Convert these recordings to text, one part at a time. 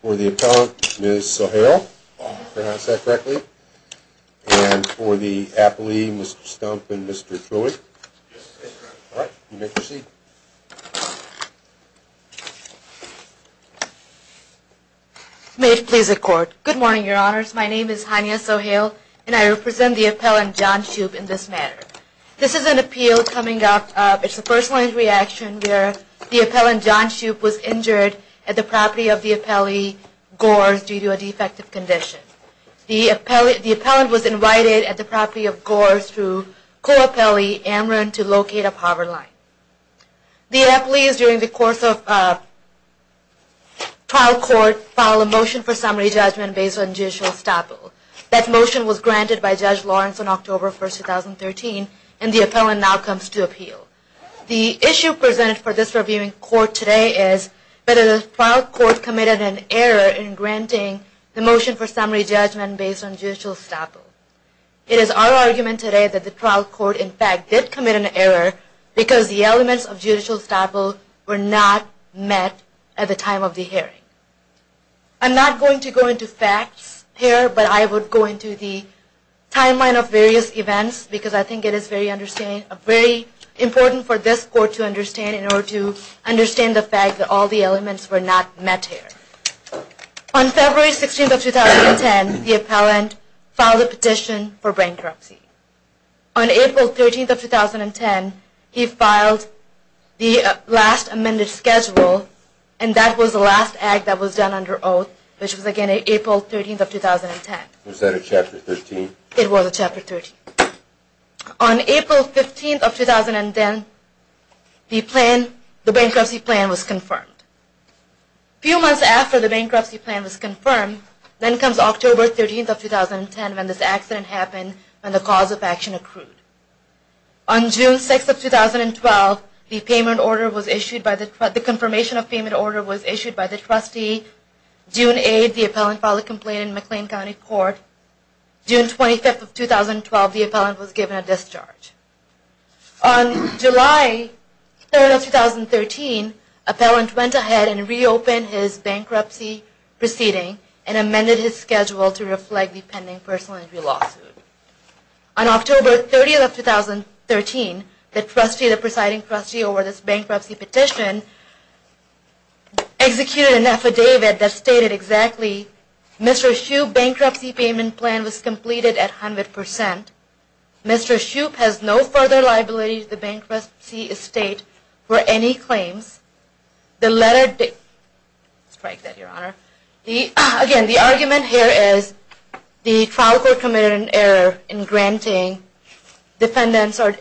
for the appellant Ms. Sohail, if I pronounced that correctly, and for the appellee Mr. Stump and Mr. Trulli. All right, you may proceed. May it please the Court. Good morning, Your Honors. My name is Hania Sohail, and I represent the appellant John Shoup in this matter. This is an appeal coming up. It's a first-line reaction where the appellant John Shoup was injured at the property of the appellee Gore due to a defective condition. The appellant was invited at the property of Gore through co-appellee Amron to locate a power line. The appellees during the course of trial court filed a motion for summary judgment based on judicial estoppel. That motion was granted by Judge Lawrence on October 1, 2013, and the appellant now comes to appeal. The issue presented for this reviewing court today is whether the trial court committed an error in granting the motion for summary judgment based on judicial estoppel. It is our argument today that the trial court, in fact, did commit an error because the elements of judicial estoppel were not met at the time of the hearing. I'm not going to go into facts here, but I would go into the timeline of various events because I think it is very important for this court to understand in order to understand the fact that all the elements were not met here. On February 16, 2010, the appellant filed a petition for bankruptcy. On April 13, 2010, he filed the last amended schedule, and that was the last act that was done under oath, which was, again, April 13, 2010. Was that a Chapter 13? It was a Chapter 13. On April 15, 2010, the bankruptcy plan was confirmed. A few months after the bankruptcy plan was confirmed, then comes October 13, 2010, when this accident happened and the cause of action accrued. On June 6, 2012, the confirmation of payment order was issued by the trustee. June 8, the appellant filed a complaint in McLean County Court. June 25, 2012, the appellant was given a discharge. On July 3, 2013, the appellant went ahead and reopened his bankruptcy proceeding and amended his schedule to reflect the pending personal injury lawsuit. On October 30, 2013, the presiding trustee over this bankruptcy petition executed an affidavit that stated exactly, Mr. Shoup's bankruptcy payment plan was completed at 100 percent. Mr. Shoup has no further liability to the bankruptcy estate for any claims. The letter did strike that, Your Honor. Again, the argument here is the trial court committed an error in granting defendants or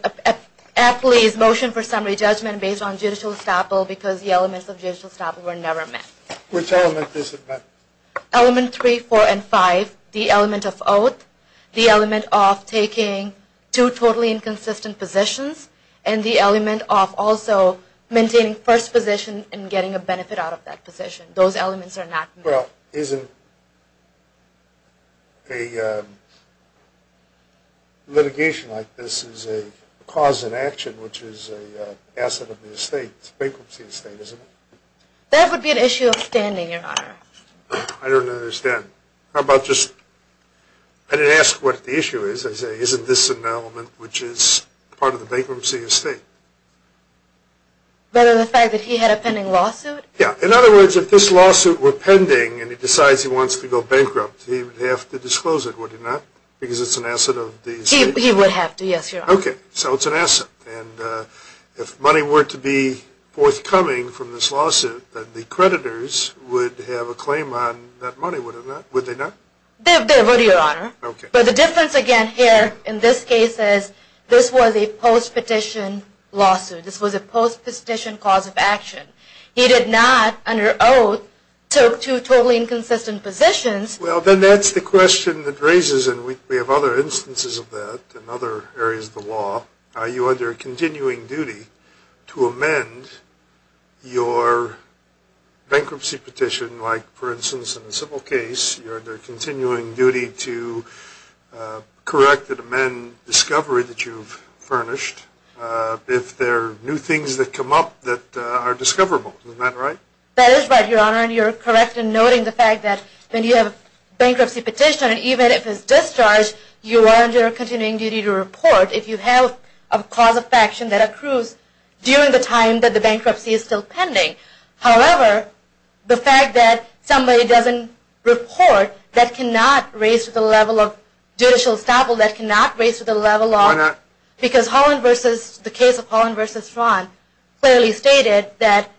appellees' motion for summary judgment based on judicial estoppel, because the elements of judicial estoppel were never met. Which element is it met? Element 3, 4, and 5, the element of oath, the element of taking two totally inconsistent positions, and the element of also maintaining first position and getting a benefit out of that position. Those elements are not met. Well, isn't a litigation like this is a cause of action, which is an asset of the estate, bankruptcy estate, isn't it? That would be an issue of standing, Your Honor. I don't understand. How about just – I didn't ask what the issue is. I said, isn't this an element which is part of the bankruptcy estate? The fact that he had a pending lawsuit? Yeah. In other words, if this lawsuit were pending and he decides he wants to go bankrupt, he would have to disclose it, would he not? Because it's an asset of the estate. Okay. So it's an asset. And if money were to be forthcoming from this lawsuit, then the creditors would have a claim on that money, would they not? They would, Your Honor. Okay. But the difference again here in this case is this was a post-petition lawsuit. This was a post-petition cause of action. He did not, under oath, took two totally inconsistent positions. Well, then that's the question that raises – and we have other instances of that in other areas of the law – are you under continuing duty to amend your bankruptcy petition? Like, for instance, in a civil case, you're under continuing duty to correct and amend discovery that you've furnished if there are new things that come up that are discoverable. Isn't that right? That is right, Your Honor. Your Honor, you're correct in noting the fact that when you have a bankruptcy petition, even if it's discharged, you are under continuing duty to report if you have a cause of action that accrues during the time that the bankruptcy is still pending. However, the fact that somebody doesn't report, that cannot raise to the level of judicial establishment, that cannot raise to the level of – Why not? Because the case of Holland v. Fraun clearly stated that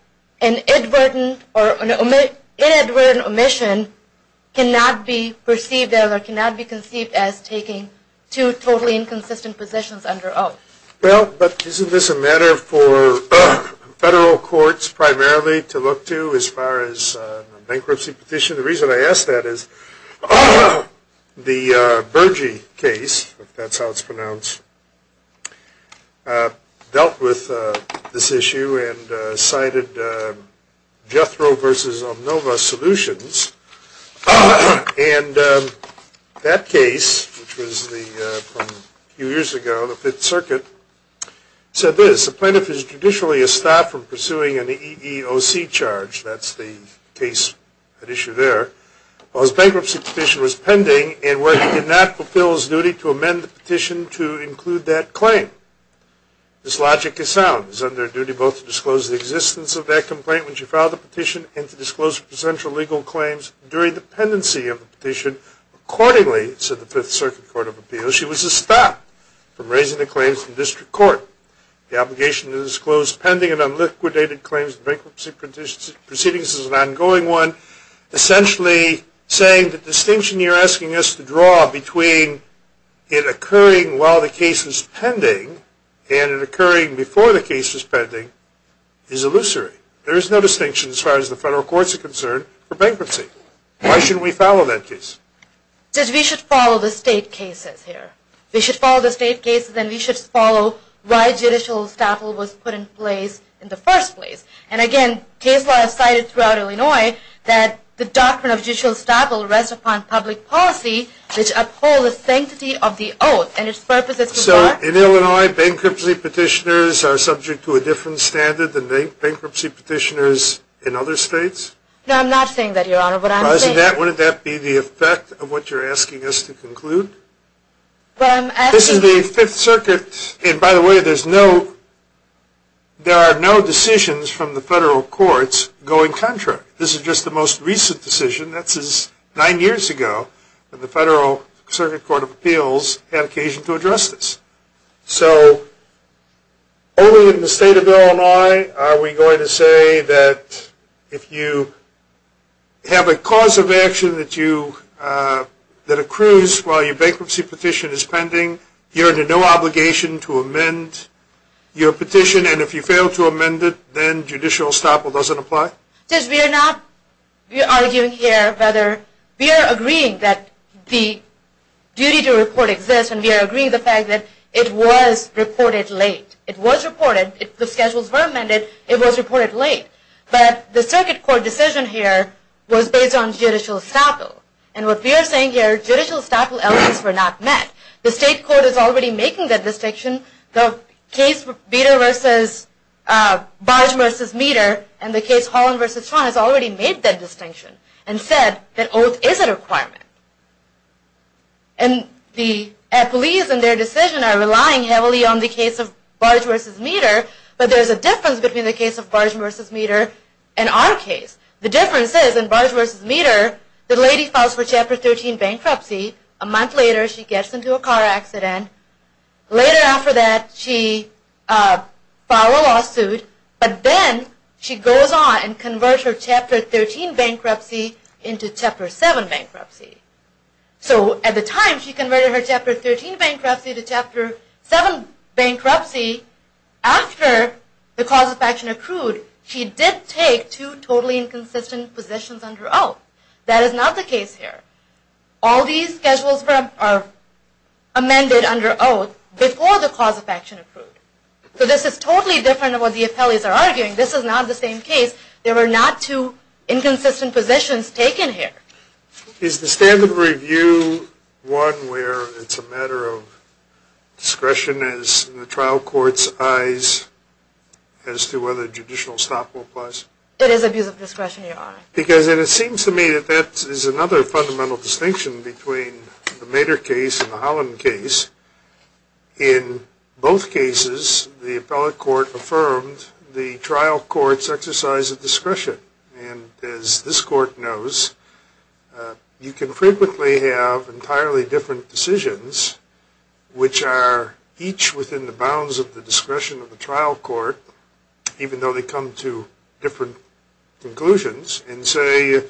an inadvertent omission cannot be perceived as or cannot be conceived as taking two totally inconsistent positions under oath. Well, but isn't this a matter for federal courts primarily to look to as far as a bankruptcy petition? The reason I ask that is the Bergey case, if that's how it's pronounced, dealt with this issue and cited Jethro v. Omnova solutions. And that case, which was from a few years ago, the Fifth Circuit, said this, the plaintiff is judicially estopped from pursuing an EEOC charge, that's the case at issue there, while his bankruptcy petition was pending and where he did not fulfill his duty to amend the petition to include that claim. This logic is sound. He's under a duty both to disclose the existence of that complaint when she filed the petition and to disclose her potential legal claims during the pendency of the petition. Accordingly, said the Fifth Circuit Court of Appeals, she was estopped from raising the claims in district court. The obligation to disclose pending and unliquidated claims in bankruptcy proceedings is an ongoing one. Essentially saying the distinction you're asking us to draw between it occurring while the case is pending and it occurring before the case is pending is illusory. There is no distinction as far as the federal courts are concerned for bankruptcy. Why shouldn't we follow that case? Because we should follow the state cases here. We should follow the state cases and we should follow why judicial estoppel was put in place in the first place. And again, case law has cited throughout Illinois that the doctrine of judicial estoppel rests upon public policy which upholds the sanctity of the oath and its purposes. So in Illinois, bankruptcy petitioners are subject to a different standard than bankruptcy petitioners in other states? Wouldn't that be the effect of what you're asking us to conclude? This is the Fifth Circuit. And by the way, there are no decisions from the federal courts going contrary. This is just the most recent decision. That's nine years ago when the Federal Circuit Court of Appeals had occasion to address this. So only in the state of Illinois are we going to say that if you have a cause of action that accrues while your bankruptcy petition is pending, you're under no obligation to amend your petition. And if you fail to amend it, then judicial estoppel doesn't apply? We are not arguing here whether we are agreeing that the duty to report exists and we are agreeing the fact that it was reported late. It was reported. The schedules were amended. It was reported late. But the circuit court decision here was based on judicial estoppel. And what we are saying here, judicial estoppel elements were not met. The state court is already making that distinction. The case Beter v. Barge v. Meter and the case Holland v. Schwan has already made that distinction and said that oath is a requirement. And the police and their decision are relying heavily on the case of Barge v. Meter, but there's a difference between the case of Barge v. Meter and our case. The difference is in Barge v. Meter, the lady files for Chapter 13 bankruptcy. A month later, she gets into a car accident. Later after that, she filed a lawsuit. But then she goes on and converts her Chapter 13 bankruptcy into Chapter 7 bankruptcy. So at the time, she converted her Chapter 13 bankruptcy to Chapter 7 bankruptcy. After the cause of action accrued, she did take two totally inconsistent positions under oath. That is not the case here. All these schedules are amended under oath before the cause of action accrued. So this is totally different than what the appellees are arguing. This is not the same case. There were not two inconsistent positions taken here. Is the standard review one where it's a matter of discretion in the trial court's eyes as to whether judicial estoppel applies? It is abuse of discretion, Your Honor. Because it seems to me that that is another fundamental distinction between the Meter case and the Holland case. In both cases, the appellate court affirmed the trial court's exercise of discretion. And as this court knows, you can frequently have entirely different decisions, which are each within the bounds of the discretion of the trial court, even though they come to different conclusions, and say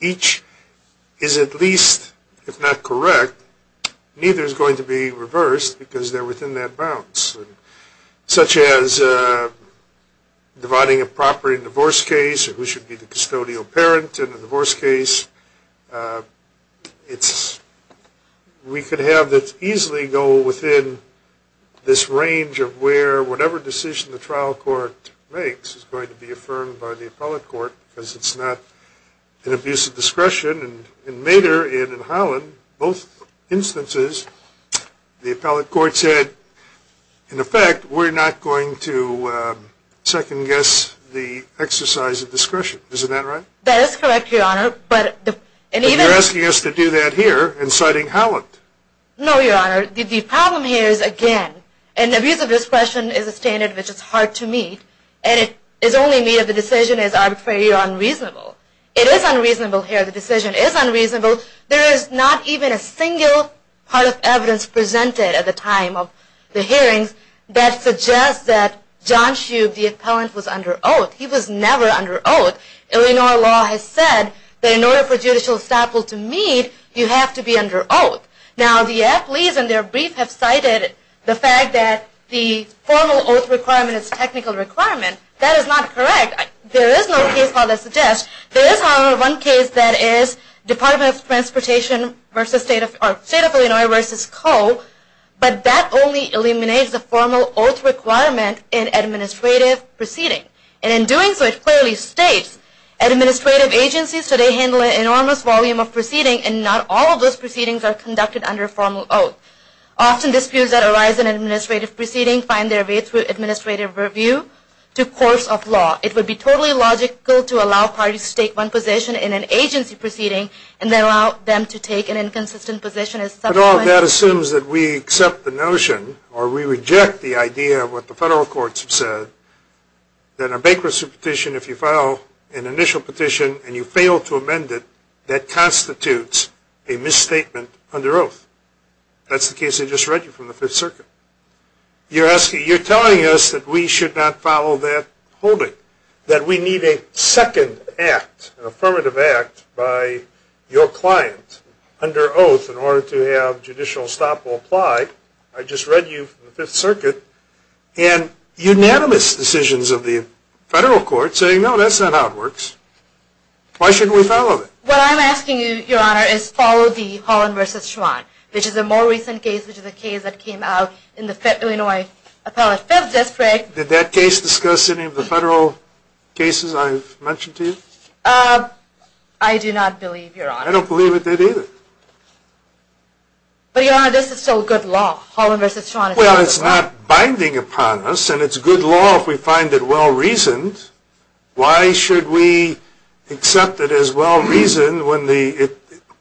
each is at least, if not correct, neither is going to be reversed because they're within that bounds. Such as dividing a property in divorce case, who should be the custodial parent in a divorce case. We could have this easily go within this range of where whatever decision the trial court makes is going to be affirmed by the appellate court because it's not an abuse of discretion. In Meter and in Holland, both instances, the appellate court said, in effect, we're not going to second guess the exercise of discretion. Isn't that right? That is correct, Your Honor. And you're asking us to do that here, inciting Holland? No, Your Honor. The problem here is, again, an abuse of discretion is a standard which is hard to meet, and it is only made if the decision is arbitrarily unreasonable. It is unreasonable here. The decision is unreasonable. There is not even a single part of evidence presented at the time of the hearings that suggests that John Shube, the appellant, was under oath. He was never under oath. Illinois law has said that in order for judicial estoppel to meet, you have to be under oath. Now, the appellees in their brief have cited the fact that the formal oath requirement is a technical requirement. That is not correct. There is no case law that suggests. There is, however, one case that is Department of Transportation v. State of Illinois v. Co., but that only eliminates the formal oath requirement in administrative proceeding. And in doing so, it clearly states, administrative agencies today handle an enormous volume of proceeding, and not all of those proceedings are conducted under formal oath. Often disputes that arise in administrative proceeding find their way through administrative review to courts of law. It would be totally logical to allow parties to take one position in an agency proceeding and then allow them to take an inconsistent position as subsequent. I don't know if that assumes that we accept the notion, or we reject the idea of what the federal courts have said, that a bankruptcy petition, if you file an initial petition and you fail to amend it, that constitutes a misstatement under oath. That's the case I just read you from the Fifth Circuit. You're telling us that we should not follow that holding, that we need a second act, an affirmative act, by your client under oath in order to have judicial stop or apply. I just read you from the Fifth Circuit, and unanimous decisions of the federal courts saying, no, that's not how it works. Why shouldn't we follow that? What I'm asking you, Your Honor, is follow the Holland v. Schwan, which is a more recent case, which is a case that came out in the Illinois Appellate Federal District. Did that case discuss any of the federal cases I've mentioned to you? I do not believe, Your Honor. I don't believe it did either. But, Your Honor, this is still good law, Holland v. Schwan. Well, it's not binding upon us, and it's good law if we find it well-reasoned. Why should we accept it as well-reasoned when the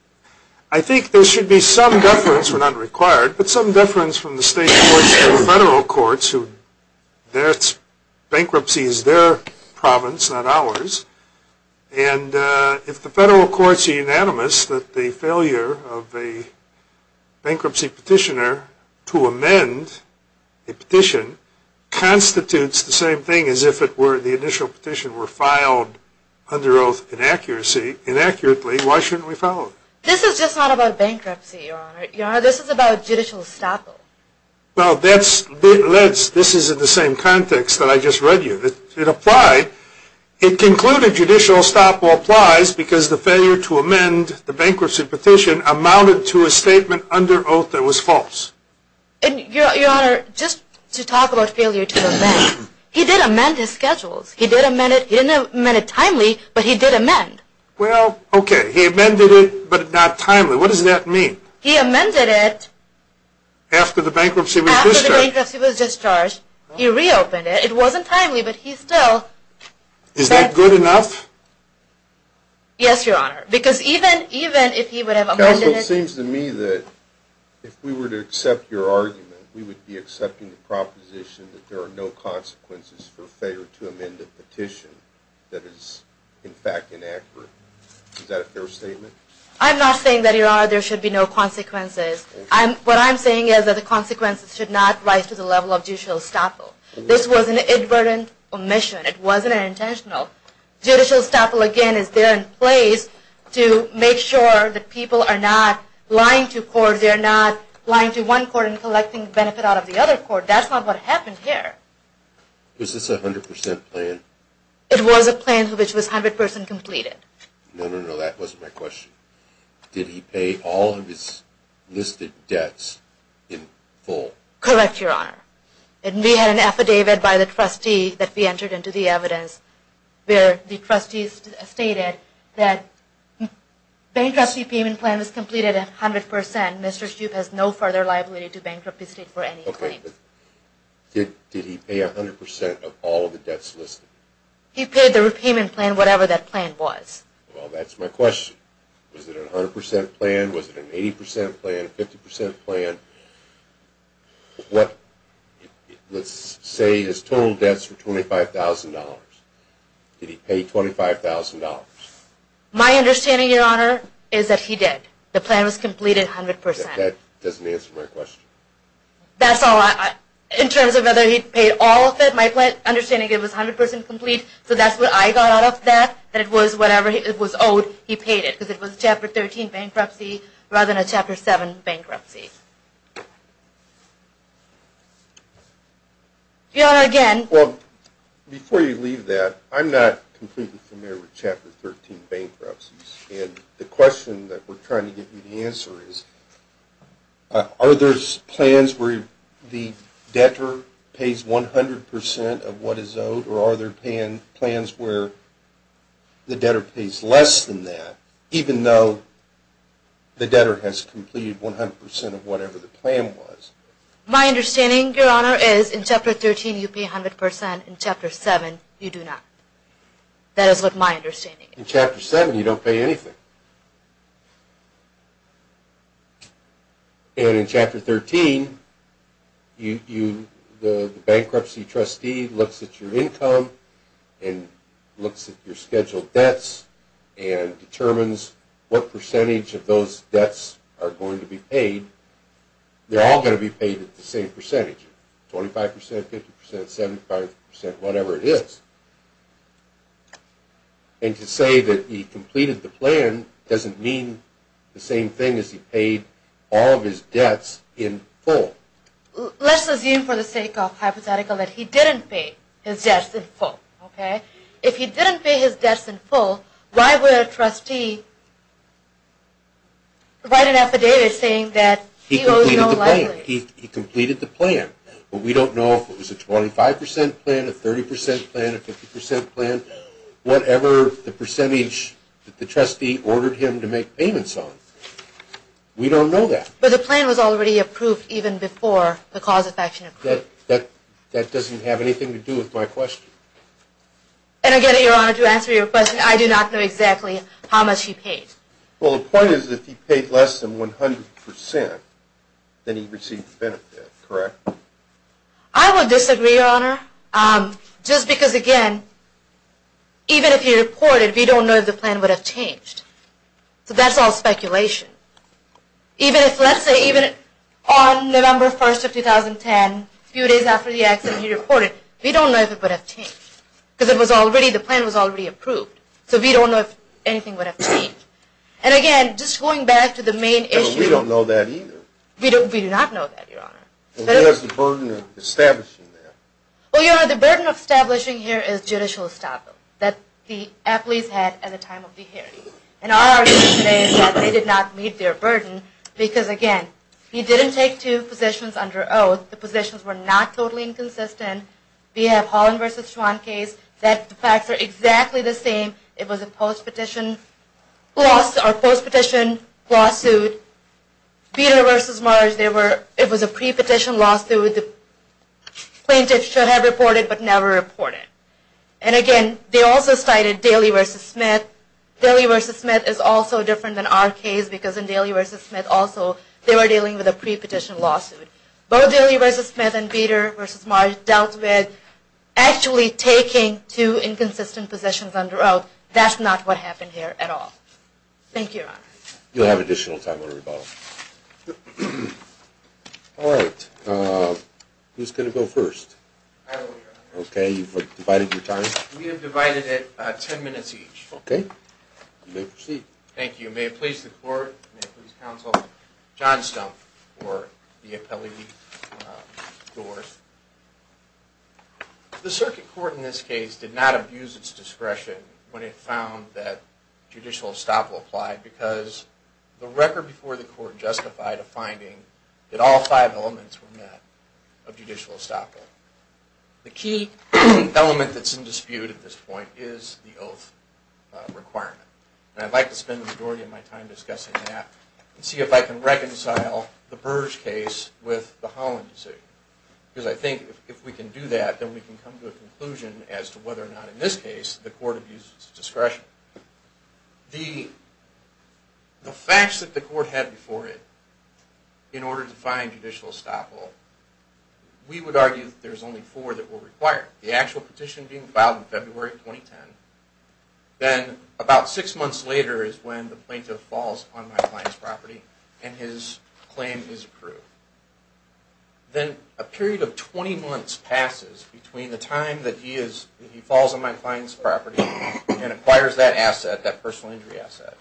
– I think there should be some deference, we're not required, but some deference from the state courts to the federal courts. Bankruptcy is their province, not ours. And if the federal courts are unanimous that the failure of a bankruptcy petitioner to amend a petition constitutes the same thing as if the initial petition were filed under oath inaccurately, why shouldn't we follow it? This is just not about bankruptcy, Your Honor. Your Honor, this is about judicial estoppel. Well, that's – this is in the same context that I just read you. It applied. It concluded judicial estoppel applies because the failure to amend the bankruptcy petition amounted to a statement under oath that was false. And, Your Honor, just to talk about failure to amend, he did amend his schedules. He did amend it. He didn't amend it timely, but he did amend. Well, okay, he amended it, but not timely. What does that mean? He amended it. After the bankruptcy was discharged. After the bankruptcy was discharged, he reopened it. It wasn't timely, but he still – Is that good enough? Yes, Your Honor, because even if he would have amended it – Counsel, it seems to me that if we were to accept your argument, we would be accepting the proposition that there are no consequences for failure to amend a petition that is, in fact, inaccurate. Is that a fair statement? I'm not saying that, Your Honor, there should be no consequences. What I'm saying is that the consequences should not rise to the level of judicial estoppel. This was an inadvertent omission. It wasn't intentional. Judicial estoppel, again, is there in place to make sure that people are not lying to court. They're not lying to one court and collecting benefit out of the other court. That's not what happened here. Was this a 100 percent plan? It was a plan which was 100 percent completed. No, no, no, that wasn't my question. Did he pay all of his listed debts in full? Correct, Your Honor. We had an affidavit by the trustee that we entered into the evidence where the trustees stated that the bankruptcy payment plan was completed 100 percent. Mr. Shoup has no further liability to bankruptcy state for any claims. Okay, but did he pay 100 percent of all of the debts listed? He paid the repayment plan, whatever that plan was. Well, that's my question. Was it a 100 percent plan? Was it an 80 percent plan, a 50 percent plan? Let's say his total debts were $25,000. Did he pay $25,000? My understanding, Your Honor, is that he did. The plan was completed 100 percent. That doesn't answer my question. That's all. In terms of whether he paid all of it, my understanding is it was 100 percent complete. So that's what I got out of that, that it was whatever it was owed, he paid it because it was a Chapter 13 bankruptcy rather than a Chapter 7 bankruptcy. Your Honor, again. Well, before you leave that, I'm not completely familiar with Chapter 13 bankruptcies. And the question that we're trying to get you to answer is, are there plans where the debtor pays 100 percent of what is owed, or are there plans where the debtor pays less than that, even though the debtor has completed 100 percent of whatever the plan was? My understanding, Your Honor, is in Chapter 13 you pay 100 percent. In Chapter 7, you do not. That is what my understanding is. In Chapter 7, you don't pay anything. And in Chapter 13, the bankruptcy trustee looks at your income and looks at your scheduled debts and determines what percentage of those debts are going to be paid. They're all going to be paid at the same percentage, 25 percent, 50 percent, 75 percent, whatever it is. And to say that he completed the plan doesn't mean the same thing as he paid all of his debts in full. Let's assume for the sake of hypothetical that he didn't pay his debts in full, okay? If he didn't pay his debts in full, why would a trustee write an affidavit saying that he owes no liabilities? He completed the plan, but we don't know if it was a 25 percent plan, a 30 percent plan, a 50 percent plan, whatever the percentage that the trustee ordered him to make payments on. We don't know that. But the plan was already approved even before the cause of action was approved. That doesn't have anything to do with my question. And again, Your Honor, to answer your question, I do not know exactly how much he paid. Well, the point is that if he paid less than 100 percent, then he received the benefit, correct? I would disagree, Your Honor, just because, again, even if he reported, we don't know if the plan would have changed. So that's all speculation. Even if, let's say, even on November 1st of 2010, a few days after the accident, he reported, we don't know if it would have changed because the plan was already approved. So we don't know if anything would have changed. And again, just going back to the main issue. We don't know that either. We do not know that, Your Honor. What is the burden of establishing that? Well, Your Honor, the burden of establishing here is judicial estoppel that the athletes had at the time of the hearing. And our argument today is that they did not meet their burden because, again, he didn't take two positions under oath. The positions were not totally inconsistent. We have Holland v. Schwan case. The facts are exactly the same. It was a post-petition lawsuit. Bader v. Marsh, it was a pre-petition lawsuit. Plaintiffs should have reported but never reported. And again, they also cited Daly v. Smith. Daly v. Smith is also different than our case because in Daly v. Smith, also, they were dealing with a pre-petition lawsuit. Both Daly v. Smith and Bader v. Marsh dealt with actually taking two inconsistent positions under oath. That's not what happened here at all. Thank you, Your Honor. You'll have additional time to rebuttal. All right. Who's going to go first? I will, Your Honor. Okay. You've divided your time? We have divided it 10 minutes each. Okay. You may proceed. Thank you. Thank you. You may have placed the court. You may have placed counsel. John Stumpf for the appellee doors. The circuit court in this case did not abuse its discretion when it found that judicial estoppel applied because the record before the court justified a finding that all five elements were met of judicial estoppel. The key element that's in dispute at this point is the oath requirement. And I'd like to spend the majority of my time discussing that and see if I can reconcile the Burge case with the Holland decision. Because I think if we can do that, then we can come to a conclusion as to whether or not in this case the court abused its discretion. The facts that the court had before it in order to find judicial estoppel, we would argue that there's only four that were required. The actual petition being filed in February 2010. Then about six months later is when the plaintiff falls on my client's property and his claim is approved. Then a period of 20 months passes between the time that he falls on my client's property and acquires that asset, that personal injury asset,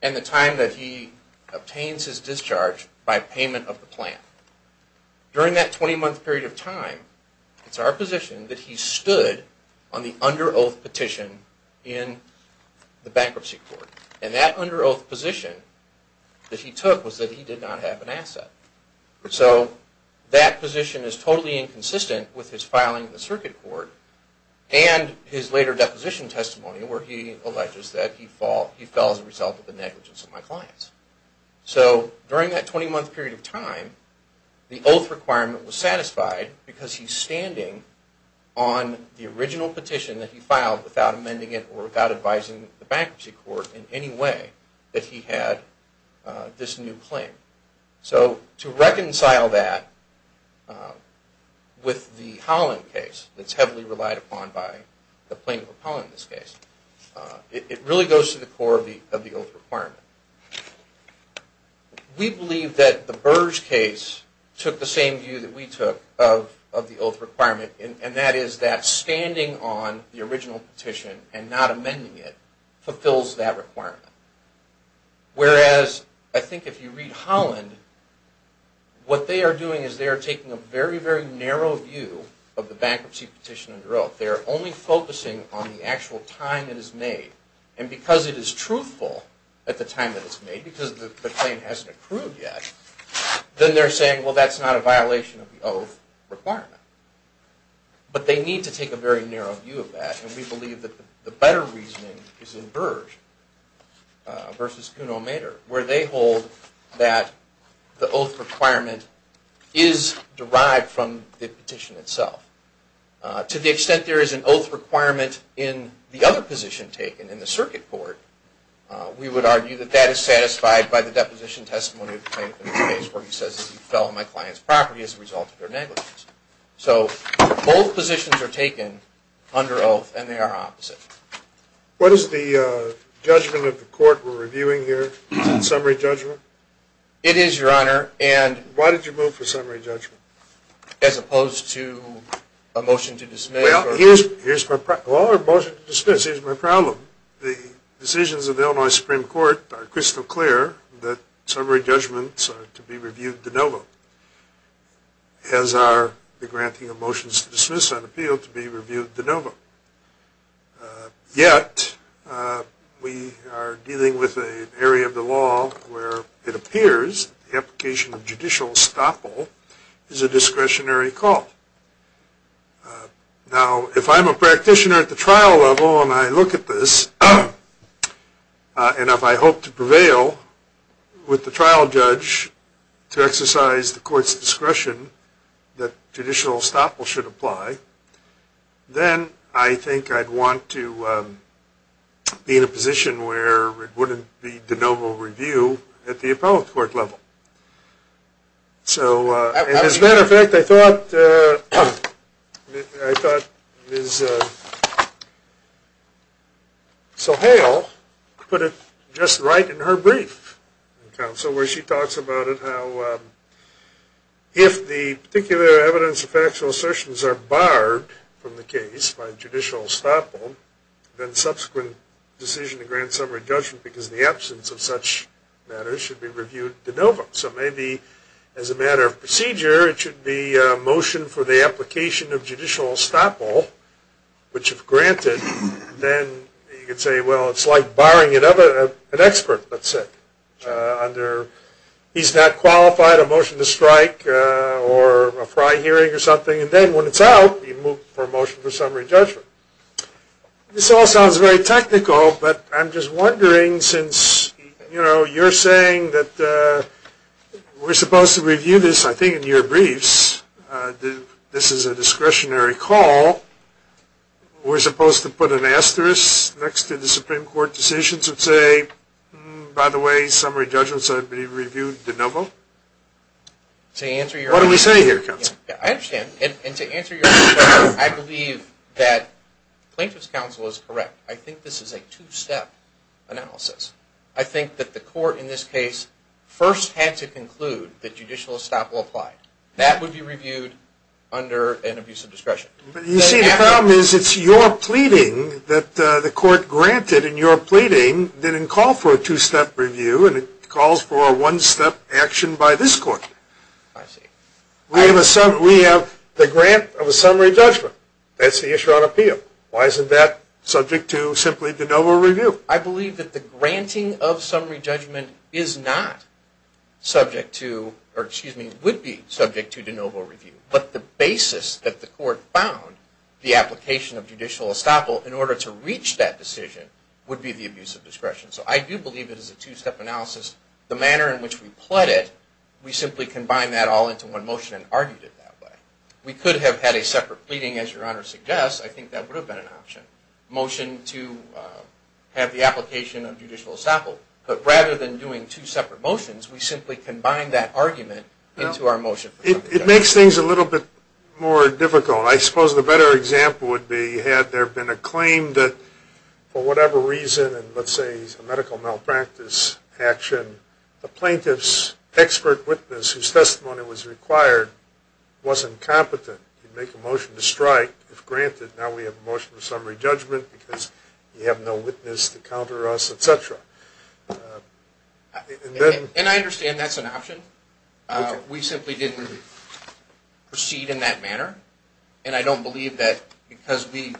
and the time that he obtains his discharge by payment of the plan. During that 20 month period of time, it's our position that he stood on the under oath petition in the bankruptcy court. And that under oath position that he took was that he did not have an asset. So that position is totally inconsistent with his filing in the circuit court and his later deposition testimony where he alleges that he fell as a result of the negligence of my clients. So during that 20 month period of time, the oath requirement was satisfied because he's standing on the original petition that he filed without amending it or without advising the bankruptcy court in any way that he had this new claim. So to reconcile that with the Holland case that's heavily relied upon by the plaintiff of Holland in this case, it really goes to the core of the oath requirement. We believe that the Burge case took the same view that we took of the oath requirement and that is that standing on the original petition and not amending it fulfills that requirement. Whereas I think if you read Holland, what they are doing is they are taking a very, very narrow view of the bankruptcy petition under oath. They are only focusing on the actual time it is made. And because it is truthful at the time that it's made, because the claim hasn't accrued yet, then they're saying well that's not a violation of the oath requirement. But they need to take a very narrow view of that and we believe that the better reasoning is in Burge. Versus Kuhn O'Mader where they hold that the oath requirement is derived from the petition itself. To the extent there is an oath requirement in the other position taken in the circuit court, we would argue that that is satisfied by the deposition testimony of the plaintiff in this case where he says he fell on my client's property as a result of their negligence. So both positions are taken under oath and they are opposite. What is the judgment of the court we are reviewing here? Is it summary judgment? It is, your honor. Why did you move for summary judgment? As opposed to a motion to dismiss. Well, here's my problem. The decisions of the Illinois Supreme Court are crystal clear that summary judgments are to be reviewed de novo. As are the granting of motions to dismiss and appeal to be reviewed de novo. Yet, we are dealing with an area of the law where it appears the application of judicial estoppel is a discretionary call. Now, if I'm a practitioner at the trial level and I look at this, and if I hope to prevail with the trial judge to exercise the court's discretion that judicial estoppel should apply, then I think I'd want to be in a position where it wouldn't be de novo review at the appellate court level. As a matter of fact, I thought Ms. Sohail put it just right in her brief, where she talks about it, how if the particular evidence of factual assertions are barred from the case by judicial estoppel, then subsequent decision to grant summary judgment because of the absence of such matters should be reviewed de novo. So maybe as a matter of procedure, it should be a motion for the application of judicial estoppel, which if granted, then you could say, well, it's like barring an expert, let's say. He's not qualified, a motion to strike, or a fry hearing or something, and then when it's out, you move for a motion for summary judgment. This all sounds very technical, but I'm just wondering, since you're saying that we're supposed to review this, I think, in your briefs, this is a discretionary call, we're supposed to put an asterisk next to the Supreme Court decisions and say, by the way, summary judgment should be reviewed de novo? What do we say here, counsel? I understand, and to answer your question, I believe that plaintiff's counsel is correct. I think this is a two-step analysis. I think that the court in this case first had to conclude that judicial estoppel applied. That would be reviewed under an abuse of discretion. You see, the problem is it's your pleading that the court granted, and your pleading didn't call for a two-step review, and it calls for a one-step action by this court. I see. We have the grant of a summary judgment. That's the issue on appeal. Why isn't that subject to simply de novo review? I believe that the granting of summary judgment is not subject to, or excuse me, would be subject to de novo review. But the basis that the court found the application of judicial estoppel in order to reach that decision would be the abuse of discretion. So I do believe it is a two-step analysis. The manner in which we pled it, we simply combined that all into one motion and argued it that way. We could have had a separate pleading, as your Honor suggests. I think that would have been an option. Motion to have the application of judicial estoppel. But rather than doing two separate motions, we simply combined that argument into our motion. It makes things a little bit more difficult. I suppose the better example would be had there been a claim that for whatever reason, let's say a medical malpractice action, the plaintiff's expert witness whose testimony was required wasn't competent. He'd make a motion to strike. If granted, now we have a motion of summary judgment because you have no witness to counter us, et cetera. And I understand that's an option. We simply didn't proceed in that manner. And I don't believe that because we,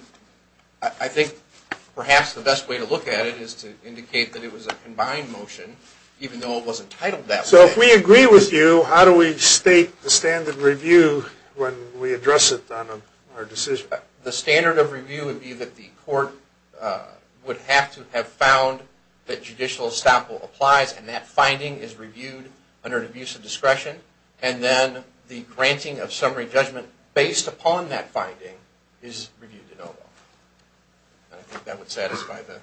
I think perhaps the best way to look at it is to indicate that it was a combined motion, even though it wasn't titled that way. So if we agree with you, how do we state the standard review when we address it on our decision? The standard of review would be that the court would have to have found that judicial estoppel applies and that finding is reviewed under an abuse of discretion. And then the granting of summary judgment based upon that finding is reviewed in OVA. And I think that would satisfy the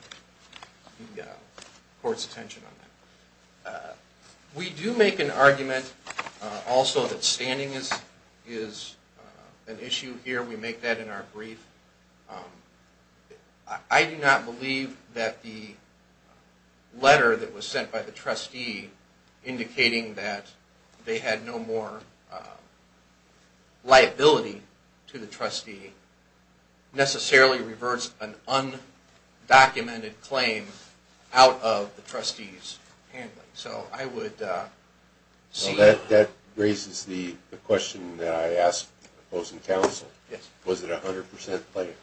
court's attention on that. We do make an argument also that standing is an issue here. We make that in our brief. I do not believe that the letter that was sent by the trustee indicating that they had no more liability to the trustee necessarily reverts an undocumented claim out of the trustee's handling. So I would see... That raises the question that I asked opposing counsel. Yes. Was it a 100% claim?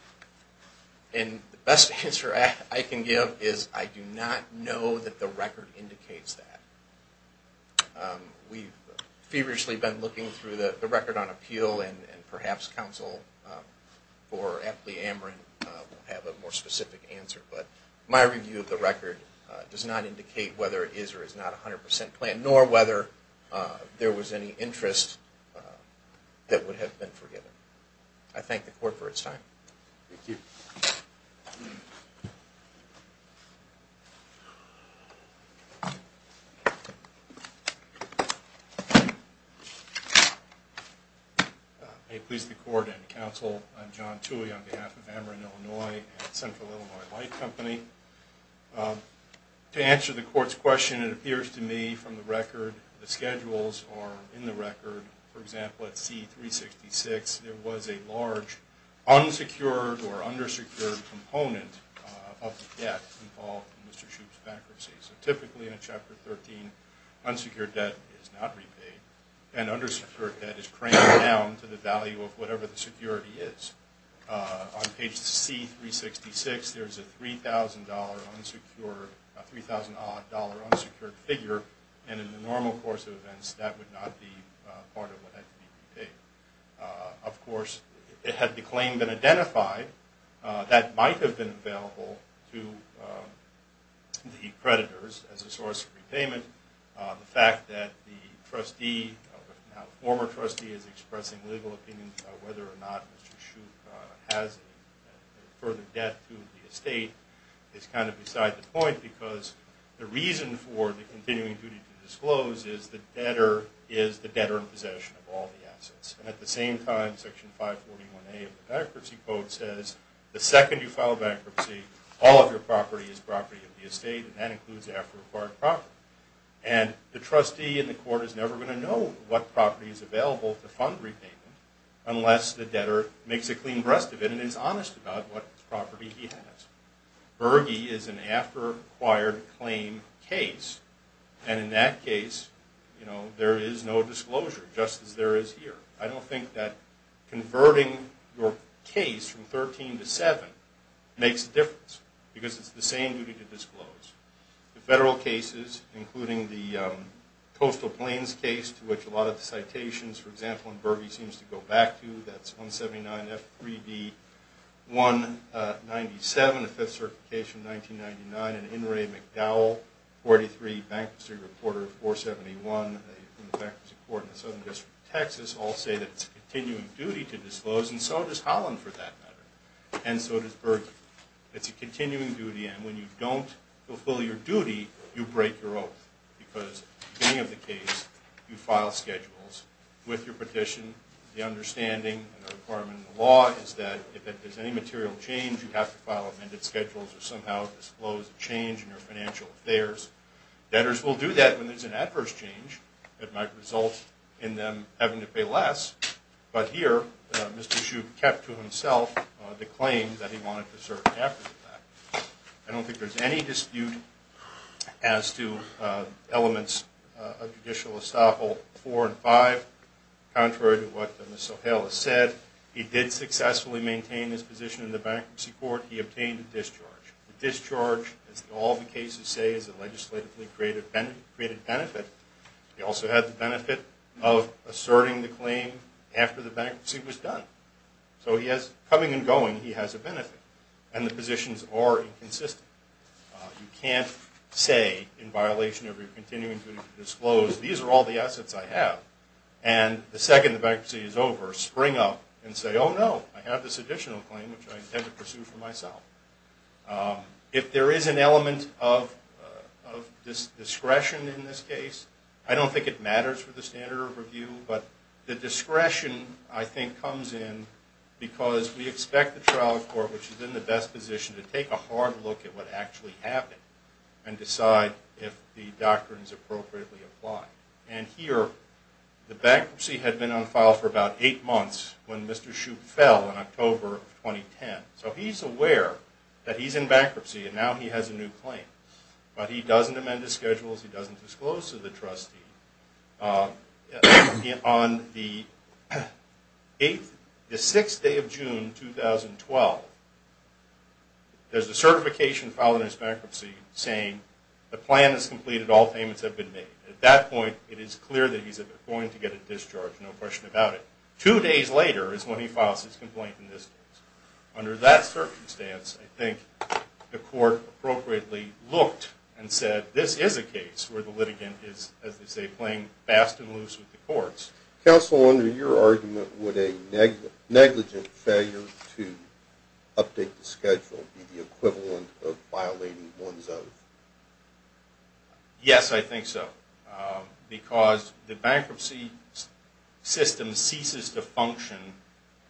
And the best answer I can give is I do not know that the record indicates that. We've feverishly been looking through the record on appeal and perhaps counsel for Apley-Amrin will have a more specific answer. But my review of the record does not indicate whether it is or is not a 100% claim nor whether there was any interest that would have been forgiven. I thank the court for its time. Thank you. May it please the court and counsel, I'm John Toohey on behalf of Amrin, Illinois and Central Illinois Light Company. To answer the court's question, it appears to me from the record the schedules are in the record. For example, at C-366 there was a large unsecured or undersecured component of the debt involved in Mr. Shoup's bankruptcy. So typically in a Chapter 13 unsecured debt is not repaid and undersecured debt is crammed down to the value of whatever the security is. On page C-366 there is a $3,000 odd dollar unsecured figure and in the normal course of events that would not be part of what had to be repaid. That might have been available to the creditors as a source of repayment. The fact that the trustee, the former trustee, is expressing legal opinions about whether or not Mr. Shoup has a further debt to the estate is kind of beside the point because the reason for the continuing duty to disclose is the debtor is the debtor in possession of all the assets. At the same time, Section 541A of the Bankruptcy Code says the second you file bankruptcy all of your property is property of the estate and that includes after-acquired property. And the trustee in the court is never going to know what property is available to fund repayment unless the debtor makes a clean breast of it and is honest about what property he has. Berge is an after-acquired claim case and in that case there is no disclosure, just as there is here. I don't think that converting your case from 13 to 7 makes a difference because it's the same duty to disclose. The federal cases, including the Coastal Plains case to which a lot of the citations, for example, and Berge seems to go back to, that's 179F3D197, the 5th Certification, 1999, and In re McDowell, 43, Bankruptcy Reporter, 471, Bankruptcy Court in the Southern District of Texas, all say that it's a continuing duty to disclose and so does Holland for that matter and so does Berge. It's a continuing duty and when you don't fulfill your duty, you break your oath because at the beginning of the case you file schedules with your petition. The understanding and the requirement in the law is that if there's any material change, you have to file amended schedules or somehow disclose a change in your financial affairs. Debtors will do that when there's an adverse change that might result in them having to pay less, but here Mr. Shoup kept to himself the claim that he wanted to serve after the fact. I don't think there's any dispute as to elements of Judicial Estoppel 4 and 5. Contrary to what Ms. O'Hale has said, he did successfully maintain his position in the bankruptcy court. He obtained a discharge. A discharge, as all the cases say, is a legislatively created benefit. He also had the benefit of asserting the claim after the bankruptcy was done. So he has, coming and going, he has a benefit and the positions are inconsistent. You can't say in violation of your continuing duty to disclose, these are all the assets I have and the second the bankruptcy is over, spring up and say, oh no, I have this additional claim which I intend to pursue for myself. If there is an element of discretion in this case, I don't think it matters for the standard of review, but the discretion I think comes in because we expect the trial court, which is in the best position to take a hard look at what actually happened and decide if the doctrine is appropriately applied. And here, the bankruptcy had been on file for about eight months when Mr. Shoup fell in October 2010. So he's aware that he's in bankruptcy and now he has a new claim, but he doesn't amend his schedules, he doesn't disclose to the trustee. On the sixth day of June 2012, there's a certification filed in his bankruptcy saying, the plan is completed, all payments have been made. At that point, it is clear that he's going to get a discharge, no question about it. Two days later is when he files his complaint in this case. Under that circumstance, I think the court appropriately looked and said, this is a case where the litigant is, as they say, playing fast and loose with the courts. Counsel, under your argument, would a negligent failure to update the schedule be the equivalent of violating one's oath? Yes, I think so. Because the bankruptcy system ceases to function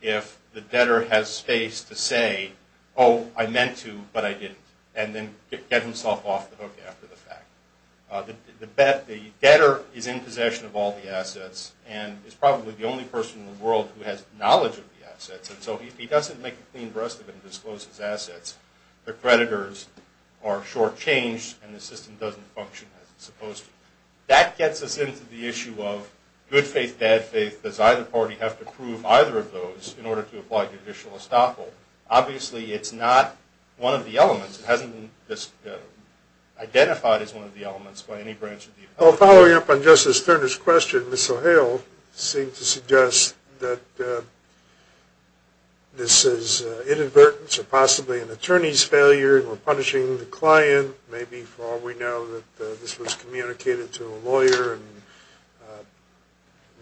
if the debtor has space to say, oh, I meant to, but I didn't, and then get himself off the hook after the fact. The debtor is in possession of all the assets and is probably the only person in the world who has knowledge of the assets. And so if he doesn't make a clean breast of it and disclose his assets, the creditors are shortchanged and the system doesn't function as it's supposed to. That gets us into the issue of good faith, bad faith. Does either party have to prove either of those in order to apply judicial estoppel? Obviously, it's not one of the elements. It hasn't been identified as one of the elements by any branch of the authority. Following up on Justice Turner's question, Ms. O'Hale seemed to suggest that this is inadvertence or possibly an attorney's failure and we're punishing the client. Maybe, for all we know, this was communicated to a lawyer and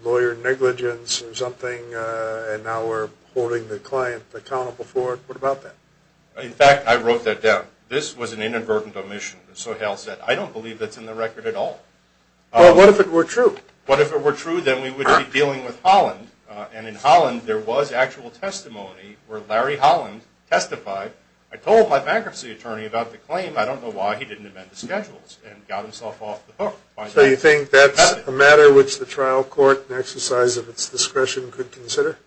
lawyer negligence or something, and now we're holding the client accountable for it. What about that? In fact, I wrote that down. This was an inadvertent omission. Ms. O'Hale said, I don't believe that's in the record at all. Well, what if it were true? What if it were true, then we would be dealing with Holland, and in Holland there was actual testimony where Larry Holland testified. I told my bankruptcy attorney about the claim. I don't know why he didn't amend the schedules and got himself off the hook. So you think that's a matter which the trial court, in exercise of its discretion, could consider?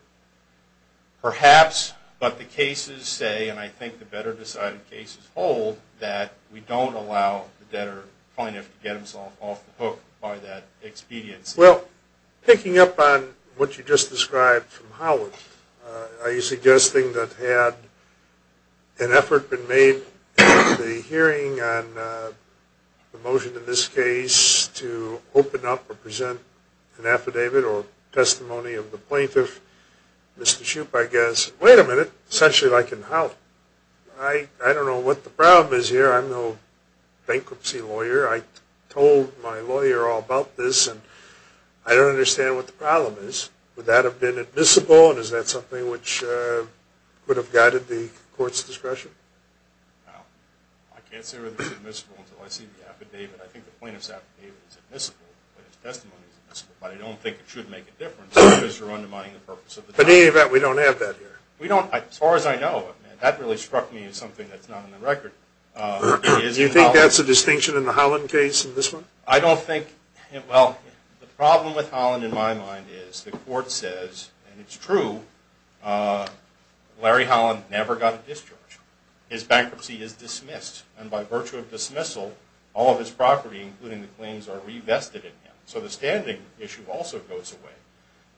Perhaps, but the cases say, and I think the better decided cases hold, that we don't allow the debtor, the plaintiff, to get himself off the hook by that expediency. Well, picking up on what you just described from Holland, are you suggesting that had an effort been made in the hearing on the motion in this case to open up or present an affidavit or testimony of the plaintiff, Mr. Shoup, I guess, wait a minute, essentially like in Holland. I don't know what the problem is here. I'm no bankruptcy lawyer. I told my lawyer all about this, and I don't understand what the problem is. Would that have been admissible, and is that something which would have guided the court's discretion? Well, I can't say whether it's admissible until I see the affidavit. I think the plaintiff's affidavit is admissible and his testimony is admissible, but I don't think it should make a difference because you're undermining the purpose of the trial. But in any event, we don't have that here. As far as I know, that really struck me as something that's not on the record. Do you think that's a distinction in the Holland case in this one? I don't think – well, the problem with Holland, in my mind, is the court says, and it's true, Larry Holland never got a discharge. His bankruptcy is dismissed, and by virtue of dismissal, all of his property, including the claims, are revested in him. So the standing issue also goes away.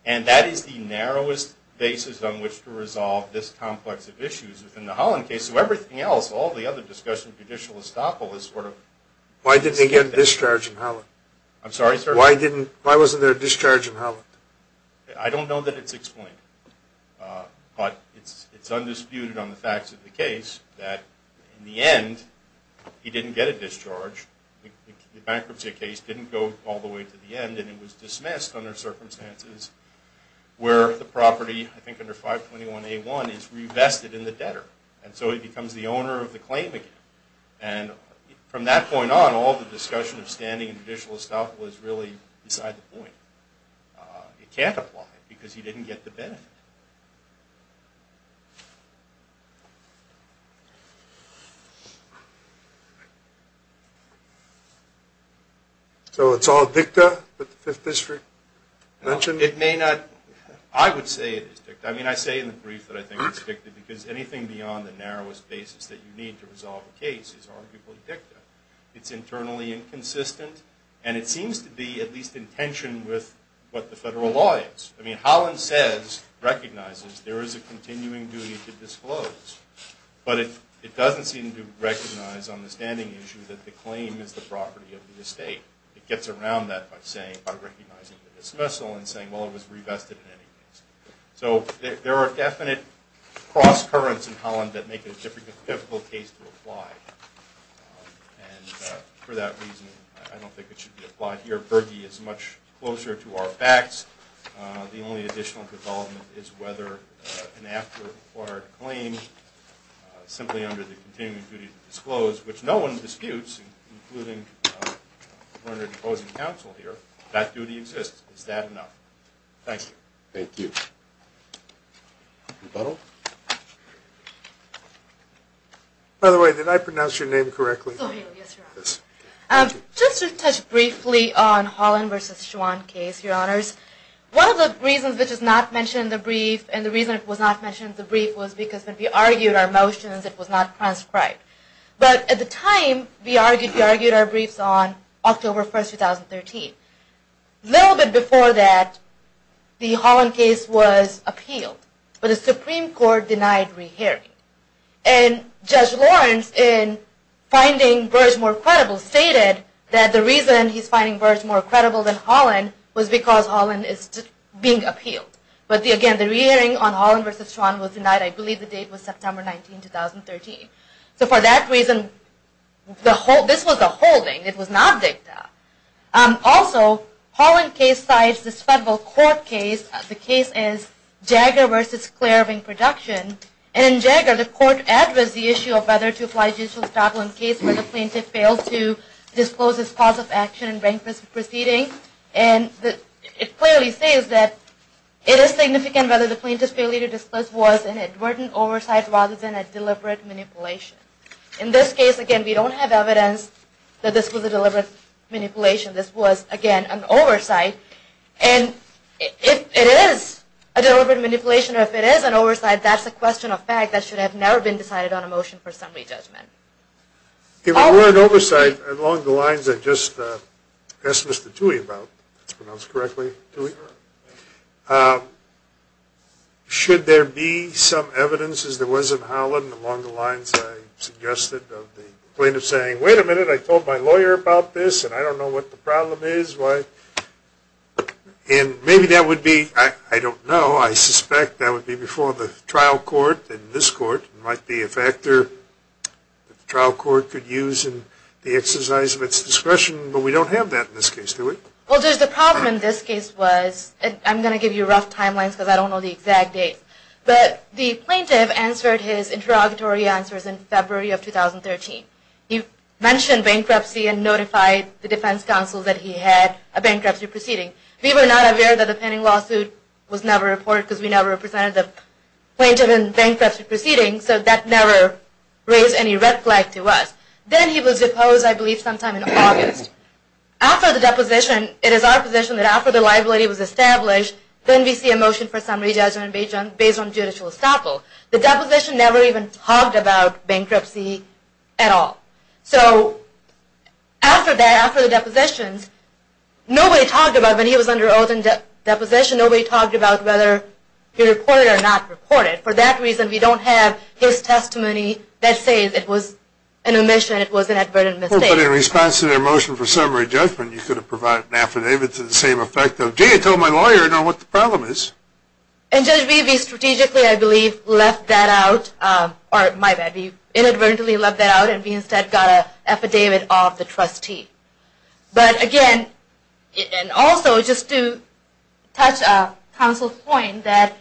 And that is the narrowest basis on which to resolve this complex of issues within the Holland case. So everything else, all the other discussion, judicial estoppel, is sort of – Why didn't he get a discharge in Holland? I'm sorry? Why wasn't there a discharge in Holland? I don't know that it's explained, but it's undisputed on the facts of the case that, in the end, he didn't get a discharge. The bankruptcy case didn't go all the way to the end, and it was dismissed under circumstances where the property, I think under 521A1, is revested in the debtor. And so he becomes the owner of the claim again. And from that point on, all the discussion of standing and judicial estoppel is really beside the point. It can't apply because he didn't get the benefit. So it's all dicta that the Fifth District mentioned? It may not – I would say it is dicta. I mean, I say in the brief that I think it's dicta because anything beyond the narrowest basis that you need to resolve a case is arguably dicta. It's internally inconsistent, and it seems to be at least in tension with what the federal law is. I mean, Holland says, recognizes, there is a continuing duty to disclose. But it doesn't seem to recognize on the standing issue that the claim is the property of the estate. It gets around that by recognizing the dismissal and saying, well, it was revested in any case. So there are definite cross-currents in Holland that make it a difficult case to apply. And for that reason, I don't think it should be applied here. Berge is much closer to our facts. The only additional development is whether an after-acquired claim, simply under the continuing duty to disclose, which no one disputes, including Werner, the opposing counsel here, that duty exists. Is that enough? Thank you. By the way, did I pronounce your name correctly? Yes, Your Honor. Just to touch briefly on Holland v. Schwan case, Your Honors, one of the reasons which is not mentioned in the brief, and the reason it was not mentioned in the brief, was because when we argued our motions, it was not transcribed. But at the time, we argued our briefs on October 1, 2013. A little bit before that, the Holland case was appealed. But the Supreme Court denied re-hearing. And Judge Lawrence, in finding Berge more credible, stated that the reason he's finding Berge more credible than Holland was because Holland is being appealed. But again, the re-hearing on Holland v. Schwan was denied. I believe the date was September 19, 2013. So for that reason, this was a holding. It was not a dicta. Also, Holland case cites this federal court case. The case is Jagger v. Clairvang Production. And in Jagger, the court addressed the issue of whether to apply judicial struggle in a case where the plaintiff failed to disclose his cause of action and rank this proceeding. And it clearly states that it is significant whether the plaintiff's failure to disclose was an advertent oversight rather than a deliberate manipulation. In this case, again, we don't have evidence that this was a deliberate manipulation. This was, again, an oversight. And if it is a deliberate manipulation or if it is an oversight, that's a question of fact that should have never been decided on a motion for summary judgment. If it were an oversight, along the lines I just asked Mr. Tuohy about, if that's pronounced correctly, Tuohy, should there be some evidence, as there was in Holland, along the lines I suggested of the plaintiff saying, wait a minute, I told my lawyer about this, and I don't know what the problem is. And maybe that would be, I don't know, I suspect that would be before the trial court, and this court might be a factor the trial court could use in the exercise of its discretion. But we don't have that in this case, do we? Well, Judge, the problem in this case was, and I'm going to give you rough timelines because I don't know the exact date, but the plaintiff answered his interrogatory answers in February of 2013. He mentioned bankruptcy and notified the defense counsel that he had a bankruptcy proceeding. We were not aware that the pending lawsuit was never reported because we never presented the plaintiff in bankruptcy proceedings, so that never raised any red flag to us. Then he was deposed, I believe, sometime in August. After the deposition, it is our position that after the liability was established, then we see a motion for summary judgment based on judicial estoppel. The deposition never even talked about bankruptcy at all. So after that, after the deposition, nobody talked about it. When he was under oath in deposition, nobody talked about whether he reported it or not reported it. For that reason, we don't have his testimony that says it was an omission, it was an advertent mistake. But in response to their motion for summary judgment, you could have provided an affidavit to the same effect of, gee, I told my lawyer I know what the problem is. And, Judge Beebe, we strategically, I believe, left that out, or my bad, we inadvertently left that out and we instead got an affidavit of the trustee. But again, and also just to touch on counsel's point that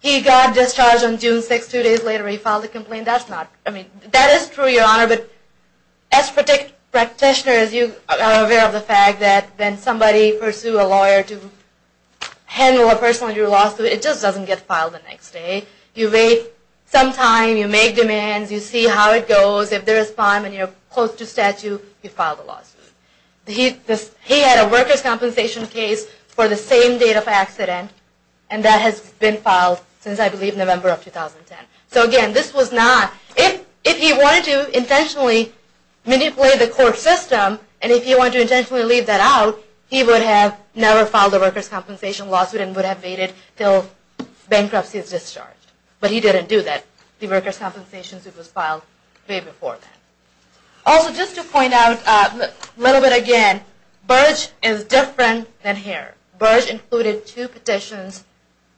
he got discharged on June 6th, two days later he filed a complaint, that's not, I mean, that is true, Your Honor, but as practitioners, you are aware of the fact that when somebody pursues a lawyer to handle a personal injury lawsuit, it just doesn't get filed the next day. You wait some time, you make demands, you see how it goes, if they respond and you're close to statute, you file the lawsuit. He had a workers' compensation case for the same date of accident and that has been filed since, I believe, November of 2010. So again, this was not, if he wanted to intentionally manipulate the court system and if he wanted to intentionally leave that out, he would have never filed a workers' compensation lawsuit and would have waited until bankruptcy is discharged. But he didn't do that. The workers' compensation suit was filed way before that. Also, just to point out a little bit again, Burge is different than here. Burge included two petitions,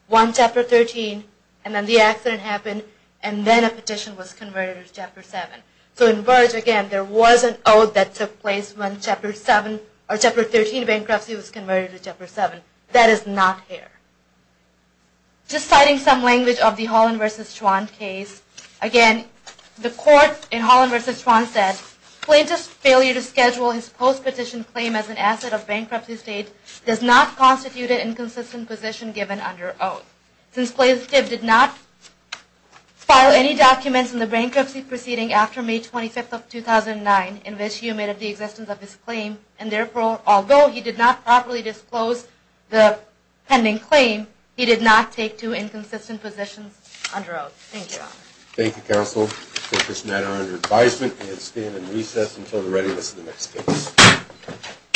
one Chapter 13, and then the accident happened and then a petition was converted to Chapter 7. So in Burge, again, there was an oath that took place when Chapter 13 bankruptcy was converted to Chapter 7. That is not here. Just citing some language of the Holland v. Schwann case, again, the court in Holland v. Schwann said, plaintiff's failure to schedule his post-petition claim as an asset of bankruptcy state does not constitute an inconsistent position given under oath. Since plaintiff did not file any documents in the bankruptcy proceeding after May 25, 2009, in which he omitted the existence of his claim, and therefore, although he did not properly disclose the pending claim, he did not take two inconsistent positions under oath. Thank you, Your Honor. Thank you, counsel. I put this matter under advisement and stand in recess until the readiness of the next case.